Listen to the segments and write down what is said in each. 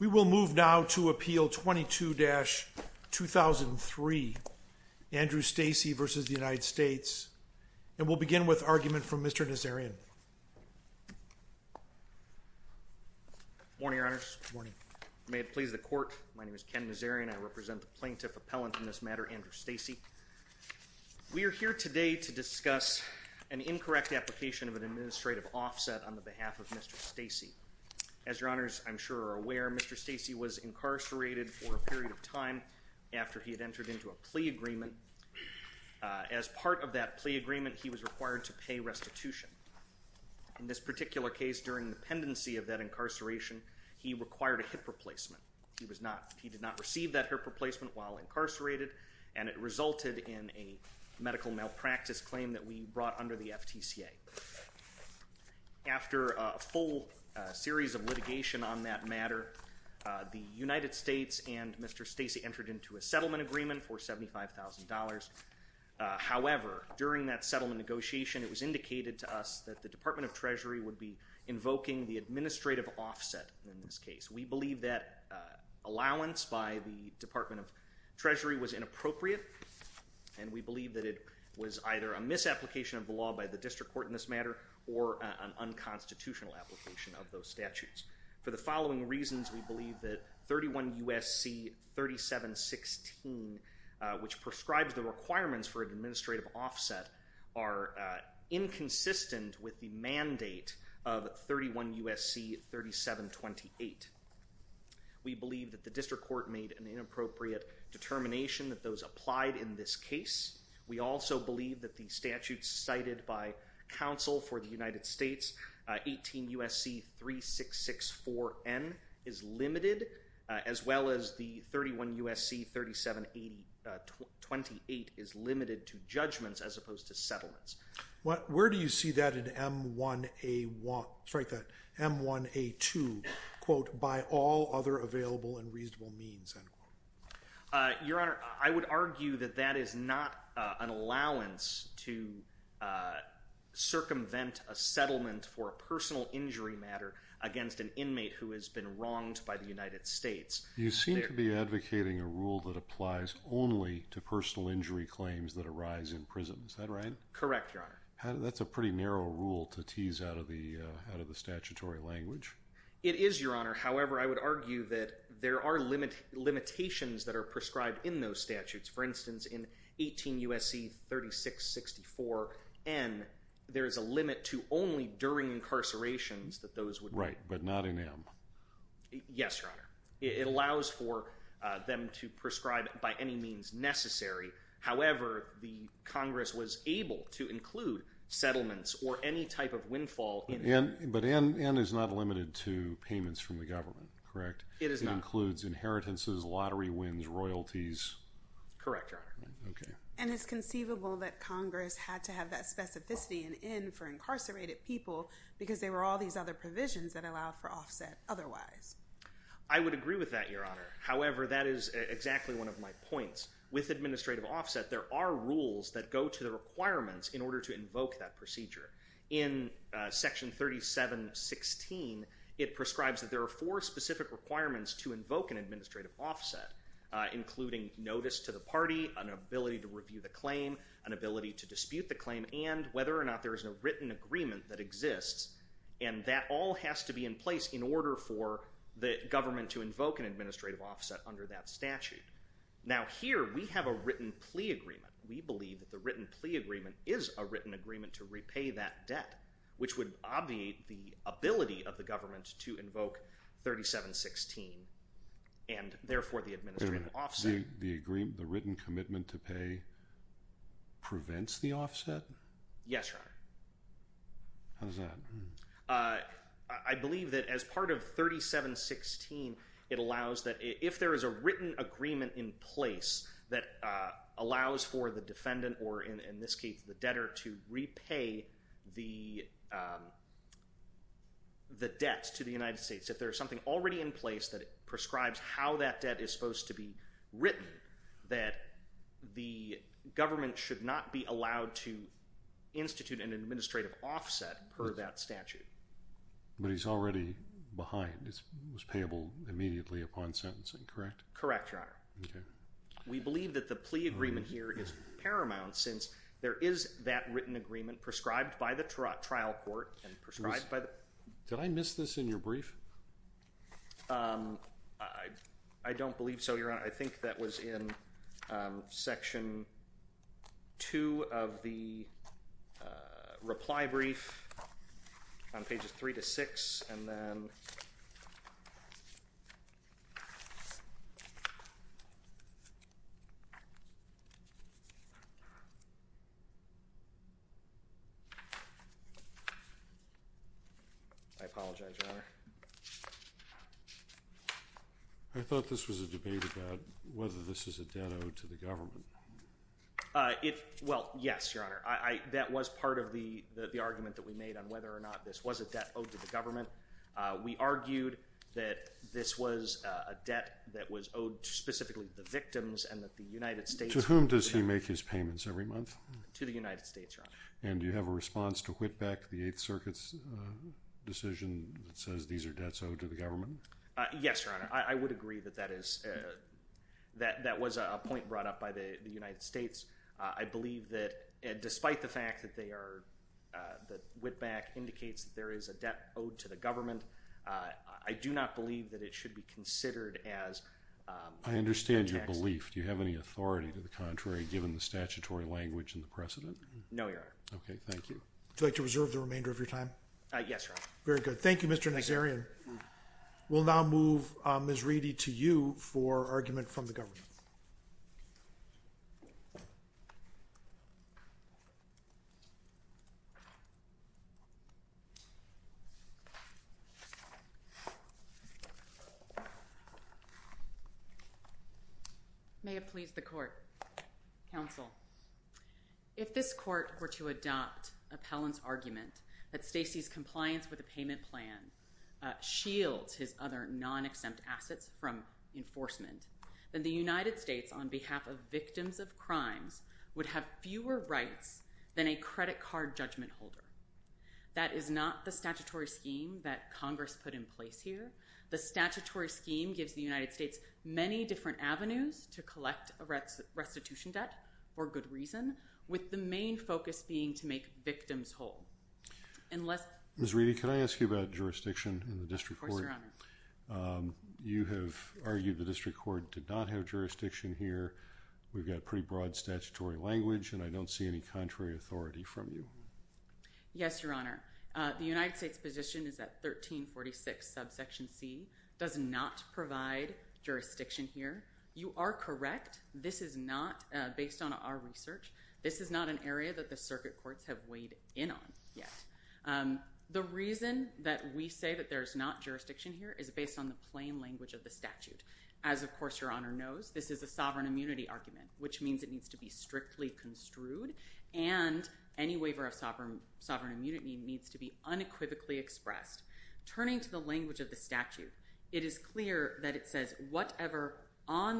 We will move now to Appeal 22-2003, Andrew Stacy v. United States, and we'll begin with Mr. Nazarian. Morning, Your Honors. Morning. May it please the court, my name is Ken Nazarian. I represent the plaintiff appellant in this matter, Andrew Stacy. We are here today to discuss an incorrect application of an administrative offset on the behalf of Mr. Stacy. As Your Honors, I'm sure are aware, Mr. Stacy was incarcerated for a period of time after he had entered into a plea agreement. As part of that plea agreement, he was required to pay restitution. In this particular case, during the pendency of that incarceration, he required a hip replacement. He did not receive that hip replacement while incarcerated, and it resulted in a medical malpractice claim that we brought under the FTCA. After a full series of litigation on that matter, the United States and Mr. Stacy entered into a settlement agreement for $75,000. However, during that settlement negotiation, it was indicated to us that the Department of Treasury would be invoking the administrative offset in this case. We believe that allowance by the Department of Treasury was inappropriate, and we believe that it was either a misapplication of the law by the district court in this matter, or an unconstitutional application of those statutes. For the following reasons, we believe that the statute U.S.C. 3716, which prescribes the requirements for an administrative offset, are inconsistent with the mandate of 31 U.S.C. 3728. We believe that the district court made an inappropriate determination that those applied in this case. We also believe that the statute cited by counsel for the United States, 18 U.S.C. 3664N, is limited, as well as the 31 U.S.C. 3728 is limited to judgments as opposed to settlements. Where do you see that in M1A1, sorry, M1A2, quote, by all other available and reasonable means, end quote? Your Honor, I would argue that that is not an allowance to circumvent a settlement for a personal injury matter against an inmate who has been wronged by the United States. You seem to be advocating a rule that applies only to personal injury claims that arise in prison. Is that right? Correct, Your Honor. That's a pretty narrow rule to tease out of the statutory language. It is, Your Honor. However, I would argue that there are limitations that are prescribed in those statutes. For instance, in 18 U.S.C. 3664N, there is a limit to only during incarcerations that those would... Right, but not in M. Yes, Your Honor. It allows for them to prescribe by any means necessary. However, the Congress was able to include settlements or any type of windfall... But N is not inheritances, lottery wins, royalties. Correct, Your Honor. Okay. And it's conceivable that Congress had to have that specificity, an N for incarcerated people, because there were all these other provisions that allowed for offset otherwise. I would agree with that, Your Honor. However, that is exactly one of my points. With administrative offset, there are rules that go to the requirements in order to invoke that procedure. In Section 3716, it prescribes that there are four specific requirements to invoke an administrative offset, including notice to the party, an ability to review the claim, an ability to dispute the claim, and whether or not there is a written agreement that exists. And that all has to be in place in order for the government to invoke an administrative offset under that statute. Now, here we have a written plea agreement. We believe that the written plea agreement is a written agreement to repay that debt, which would obviate the ability of the government to invoke 3716, and therefore the administrative offset. The written commitment to pay prevents the offset? Yes, Your Honor. How's that? I believe that as part of 3716, it allows that if there is a written agreement in place that allows for the defendant, or in this case, the debtor, to repay the debt to the United States, if there's something already in place that prescribes how that debt is supposed to be written, that the government should not be allowed to institute an administrative offset per that statute. But he's already behind. It was correct? Correct, Your Honor. We believe that the plea agreement here is paramount since there is that written agreement prescribed by the trial court and prescribed by the... Did I miss this in your brief? I don't believe so, Your Honor. I think that was in Section 2 of the reply brief on pages 3 to 6, and then... I apologize, Your Honor. I thought this was a debate about whether this is a debt owed to the government. Well, yes, Your Honor. That was part of the argument that we made on whether or not this was a debt owed to the government. We argued that this was a debt that was owed specifically to the victims and that the United States... To whom does he make his payments every month? To the United States, Your that says these are debts owed to the government? Yes, Your Honor. I would agree that that is... That was a point brought up by the United States. I believe that despite the fact that they are... That Wittbach indicates that there is a debt owed to the government, I do not believe that it should be considered as... I understand your belief. Do you have any authority to the contrary, given the Very good. Thank you, Mr. Nazarian. We'll now move Ms. Reedy to you for argument from the government. May it please the court. Counsel, if this court were to adopt appellant's argument that Stacy's compliance with the payment plan shields his other non-exempt assets from enforcement, then the United States, on behalf of victims of crimes, would have fewer rights than a credit card judgment holder. That is not the statutory scheme that Congress put in place here. The statutory scheme gives the to collect a restitution debt for good reason, with the main focus being to make victims whole. Unless... Ms. Reedy, can I ask you about jurisdiction in the district court? Of course, Your Honor. You have argued the district court did not have jurisdiction here. We've got pretty broad statutory language, and I don't see any contrary authority from you. Yes, Your Honor. The United States position is that jurisdiction here. You are correct. This is not, based on our research, this is not an area that the circuit courts have weighed in on yet. The reason that we say that there's not jurisdiction here is based on the plain language of the statute. As, of course, Your Honor knows, this is a sovereign immunity argument, which means it needs to be strictly construed, and any waiver of sovereign immunity needs to be on the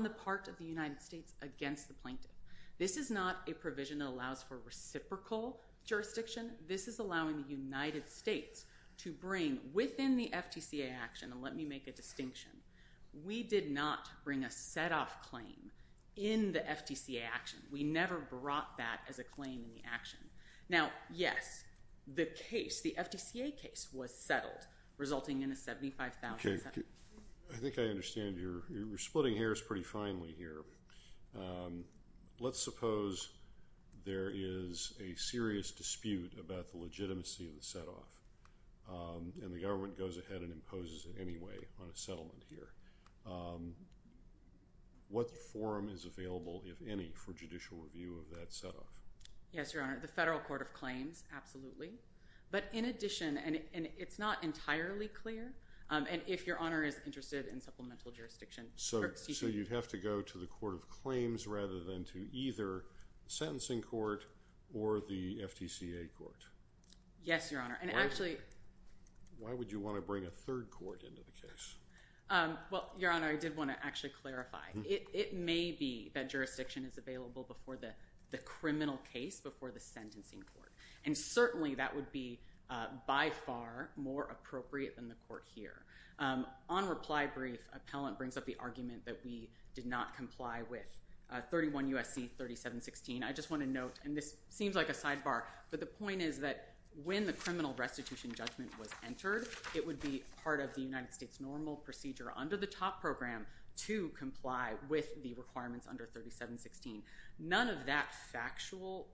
part of the United States against the plaintiff. This is not a provision that allows for reciprocal jurisdiction. This is allowing the United States to bring, within the FTCA action, and let me make a distinction, we did not bring a set-off claim in the FTCA action. We never brought that as a claim in the action. Now, yes, the case, the FTCA case, was settled, resulting in a 75,000 settlement. Okay. I think I understand. You're splitting hairs pretty finely here. Let's suppose there is a serious dispute about the legitimacy of the set-off, and the government goes ahead and imposes it anyway on a settlement here. What forum is available, if any, for judicial review of that set-off? Yes, Your Honor. The Federal Court of Claims, absolutely. But in addition, and it's not entirely clear, and if Your Honor is interested in supplemental jurisdiction. So you'd have to go to the Court of Claims rather than to either sentencing court or the FTCA court? Yes, Your Honor. And actually... Why would you want to bring a third court into the case? Well, Your Honor, I did want to actually clarify. It may be that jurisdiction is available before the criminal case, before the sentencing court. And certainly that would be, by far, more appropriate than the court here. On reply brief, appellant brings up the argument that we did not comply with 31 U.S.C. 3716. I just want to note, and this seems like a sidebar, but the point is that when the criminal restitution judgment was entered, it would be part of the United States normal procedure under the top program to comply with the requirements under 3716. None of that factual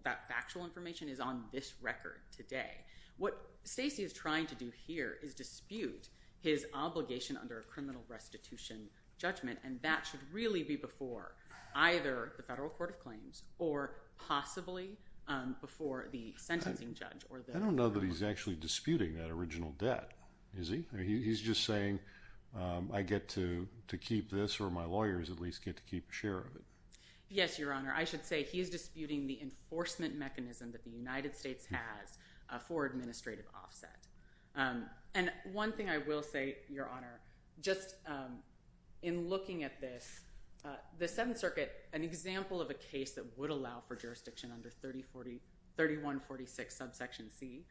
information is on this record today. What Stacey is trying to do here is dispute his obligation under a criminal restitution judgment, and that should really be before either the Federal Court of Claims or possibly before the sentencing judge. I don't know that he's actually disputing that original debt, is he? He's just saying, I get to keep this or my lawyers at least get to keep a share of it. Yes, Your Honor, I should say he is disputing the enforcement mechanism that the United States has for administrative offset. And one thing I will say, Your Honor, just in looking at this, the Seventh Circuit, an example of a case that would allow for jurisdiction under 3146 subsection C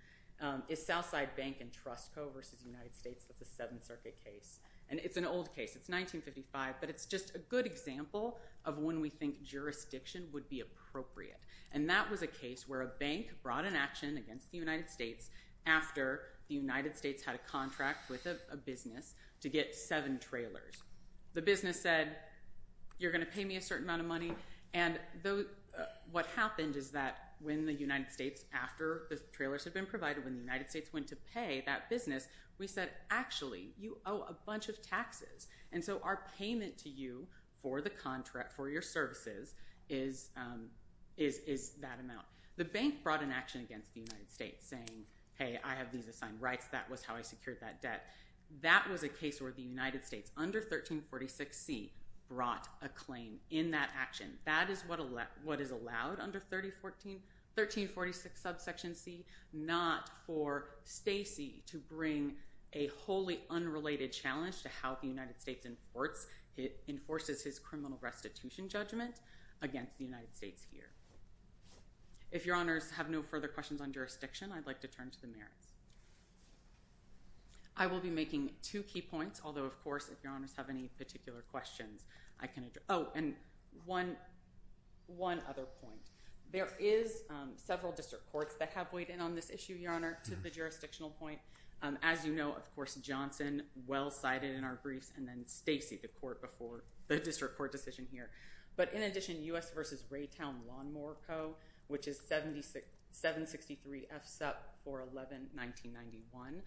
is Southside Bank and Trust Co. v. United States. That's a Seventh Circuit case, and it's an old case. It's 1955, but it's just a good example of when we think jurisdiction would be appropriate. And that was a case where a bank brought an action against the United States after the United States had a contract with a business to get seven trailers. The business said, you're going to pay me a certain amount of money, and what happened is that when the United States, after the trailers had been provided, when the United States went to pay that business, we said, actually, you owe a bunch of taxes. And so our payment to you for the contract, for your services, is that amount. The bank brought an action against the United States saying, hey, I have these assigned rights. That was how I secured that debt. That was a case where the United States under 1346C brought a claim in that action. That is what is allowed under 1346 subsection C, not for Stacy to bring a wholly unrelated challenge to how the United States enforces his criminal restitution judgment against the United States here. If your honors have no further questions on jurisdiction, I'd like to turn to the merits. I will be making two key points, although, of course, if your honors have any particular questions, I can address. Oh, and one other point. There is several district courts that have weighed in on this issue, your honor, to the jurisdictional point. As you know, of course, Johnson well-cited in our briefs, and then Stacy, the district court decision here. But in addition, U.S. versus Raytown-Lawnmower Co., which is 763 F. Supp. 411-1991,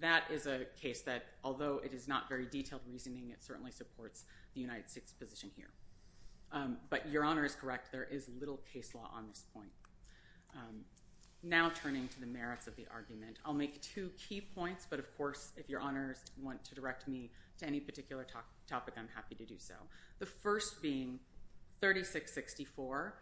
that is a case that, although it is not very detailed reasoning, it certainly supports the United States position here. But your honor is correct. I'm not referring to any particular topic. I'm happy to do so. The first being 3664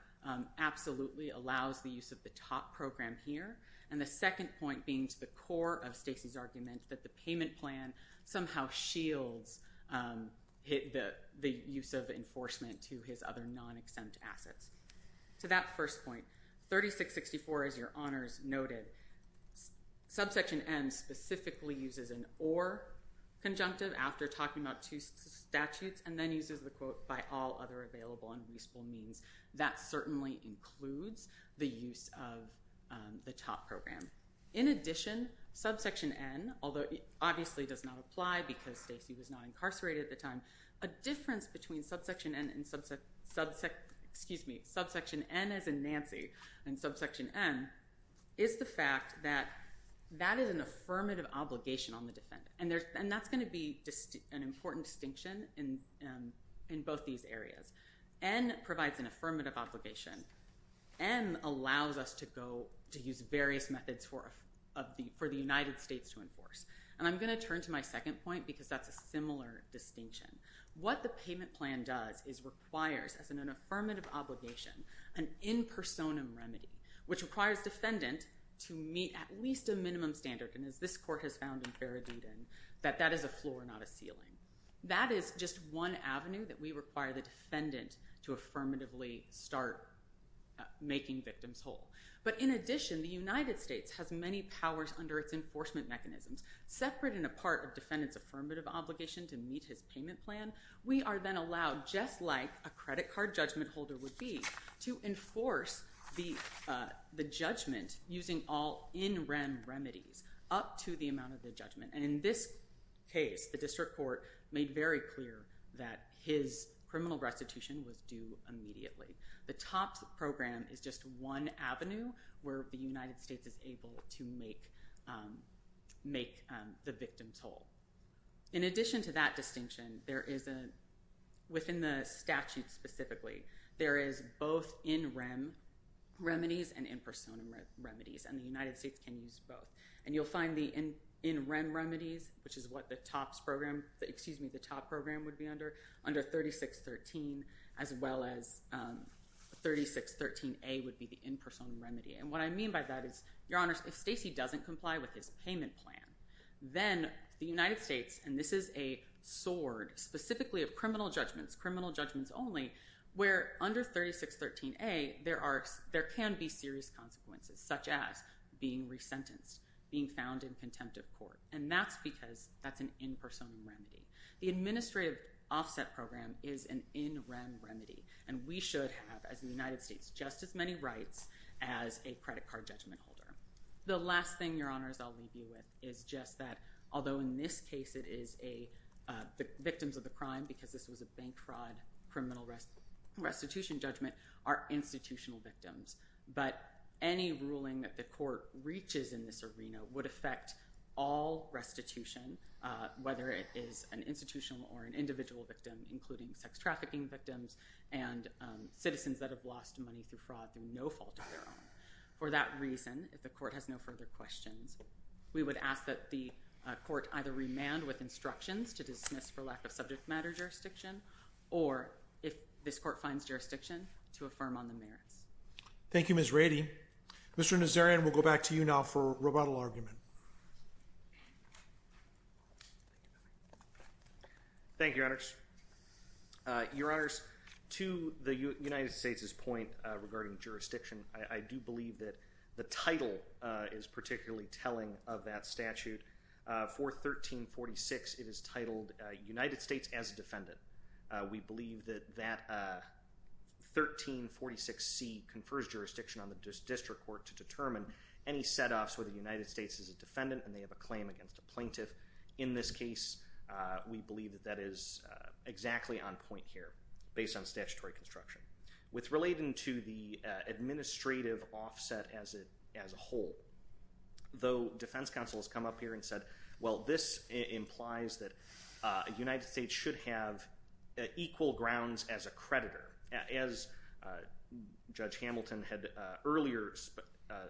absolutely allows the use of the top program here. And the second point being to the core of Stacy's argument that the payment plan somehow shields the use of enforcement to his other non-exempt assets. To that first point, 3664, as your honors noted, subsection N specifically uses an or conjunctive after talking about two statutes, and then uses the quote by all other available and reasonable means. That certainly includes the use of the top program. In addition, subsection N, although it obviously does not apply because Stacy was not incarcerated at the time, a difference between subsection N as in Nancy and subsection M is the fact that that is an affirmative obligation on the defendant. And that's going to be an important distinction in both these areas. N provides an affirmative obligation. M allows us to use various methods for the United States to enforce. And I'm going to turn to my second point because that's a similar distinction. What the payment plan does is requires, as an affirmative obligation, an in personam remedy, which requires defendant to meet at least a minimum standard, and as this court has found in Faradayden, that that is a floor, not a ceiling. That is just one avenue that we require the defendant to affirmatively start making victims whole. But in addition, the United States has many powers under its enforcement mechanisms. Separate and apart of defendant's affirmative obligation to meet his payment plan, we are then allowed, just like a credit card judgment holder would be, to enforce the judgment using all in rem remedies up to the amount of the judgment. And in this case, the district court made very clear that his criminal restitution was due immediately. The TOPS program is just one avenue where the United States is able to make the victim whole. In addition to that distinction, there is a, within the statute specifically, there is both in rem remedies and in personam remedies, and the United States can use both. And you'll find the in rem remedies, which is what the TOPS program, excuse me, the TOPS program would be under, under 3613, as well as 3613A would be the in personam remedy. And what I mean by that is, your honors, if Stacey doesn't comply with his payment plan, then the United States, and this is a sword specifically of criminal judgments, criminal judgments only, where under 3613A there can be serious consequences, such as being resentenced, being found in contempt of court. And that's because that's an in personam remedy. The administrative offset program is an in rem remedy. And we should have, as the United States, just as many rights as a credit card judgment holder. The last thing, your honors, I'll leave you with is just that, although in this case it is a, the victims of the crime, because this was a bank fraud criminal restitution judgment, are institutional victims. But any ruling that the court reaches in this arena would affect all restitution, whether it is an institutional or an individual victim, including sex trafficking victims and citizens that have lost money through fraud through no fault of their own. For that reason, if the court has no further questions, we would ask that the court either remand with instructions to dismiss for lack of subject matter jurisdiction, or if this court finds jurisdiction, to affirm on the merits. Thank you, Ms. Rady. Mr. Nazarian, we'll go back to you now for rebuttal argument. Thank you, your honors. Your honors, to the United States' point regarding jurisdiction, I do believe that the title is particularly telling of that statute. For 1346, it is titled United States as a Defendant. We believe that that 1346C confers jurisdiction on the district court to determine any set-offs whether the United States is a defendant and they have a claim against a plaintiff. In this case, we believe that that is exactly on point here, based on statutory construction. With relating to the administrative offset as a whole, though defense counsel has come up here and said, well, this implies that the United States should have equal grounds as a creditor. As Judge Hamilton had earlier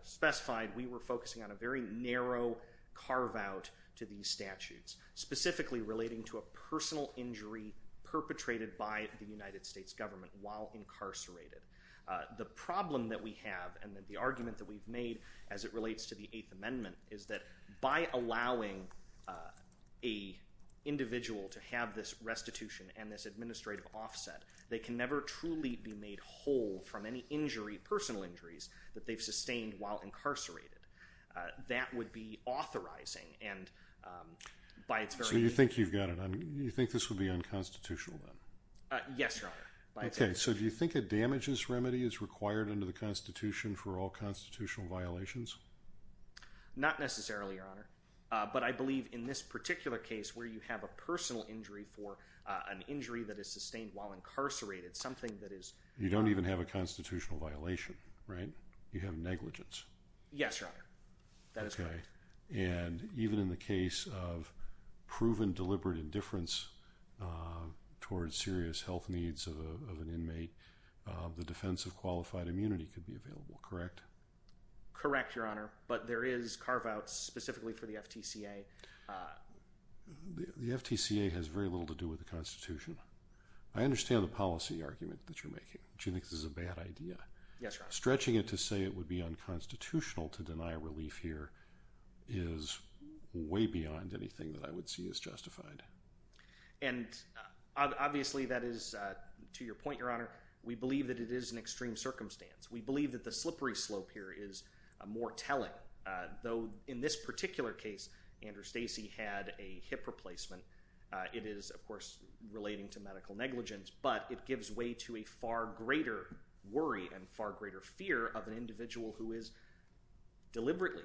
specified, we were focusing on a very narrow carve-out to these statutes, specifically relating to a personal injury perpetrated by the United States government while incarcerated. The problem that we have and the argument that we've made as it relates to the Eighth Amendment is that by allowing an individual to have this restitution and this administrative offset, they can never truly be made whole from any personal injuries that they've sustained while incarcerated. That would be authorizing. So you think this would be unconstitutional then? Yes, your honor. Okay, so do you think a damages remedy is required under the Constitution for all constitutional violations? Not necessarily, your honor. But I believe in this particular case where you have a personal injury for an injury that is sustained while incarcerated, something that is— You don't even have a constitutional violation, right? You have negligence. Yes, your honor. That is correct. And even in the case of proven deliberate indifference towards serious health needs of an inmate, the defense of qualified immunity could be available, correct? Correct, your honor. But there is carve-outs specifically for the FTCA. The FTCA has very little to do with the Constitution. I understand the policy argument that you're making, which you think is a bad idea. Yes, your honor. Stretching it to say it would be unconstitutional to deny relief here is way beyond anything that I would see as justified. And obviously that is, to your point, your honor, we believe that it is an extreme circumstance. We believe that the slippery slope here is more telling. Though in this particular case, Andrew Stacey had a hip replacement. It is, of course, relating to medical negligence. But it gives way to a far greater worry and far greater fear of an individual who is deliberately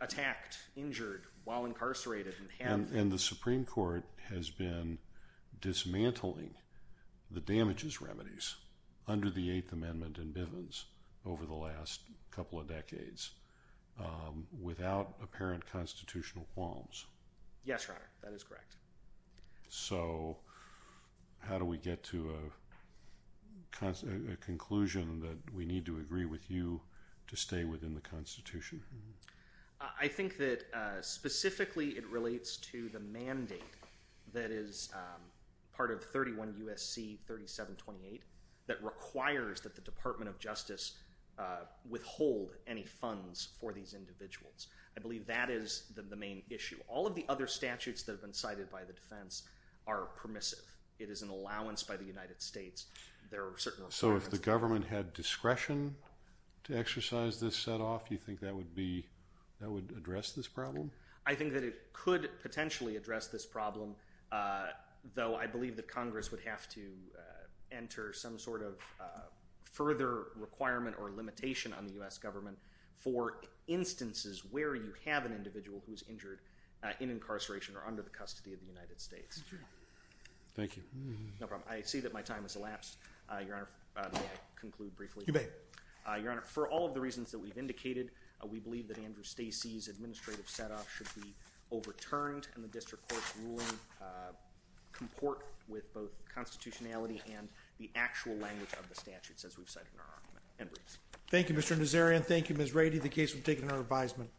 attacked, injured, while incarcerated. And the Supreme Court has been dismantling the damages remedies under the Eighth Amendment in Bivens over the last couple of decades without apparent constitutional qualms. Yes, your honor. That is correct. So how do we get to a conclusion that we need to agree with you to stay within the Constitution? I think that specifically it relates to the mandate that is part of 31 U.S.C. 3728 that requires that the Department of Justice withhold any funds for these individuals. I believe that is the main issue. All of the other statutes that have been cited by the defense are permissive. It is an allowance by the United States. So if the government had discretion to exercise this set off, you think that would address this problem? I think that it could potentially address this problem, though I believe that Congress would have to enter some sort of further requirement or limitation on the U.S. government for instances where you have an individual who is injured in incarceration or under the custody of the United States. Thank you. No problem. I see that my time has elapsed. Your honor, may I conclude briefly? You may. Your honor, for all of the reasons that we've indicated, we believe that Andrew Stacey's administrative set off should be overturned and the district court's ruling comport with both constitutionality and the actual language of the statutes as we've cited in our argument. Thank you, Mr. Nazarian. Thank you, Ms. Rady. The case will be taken under advisement.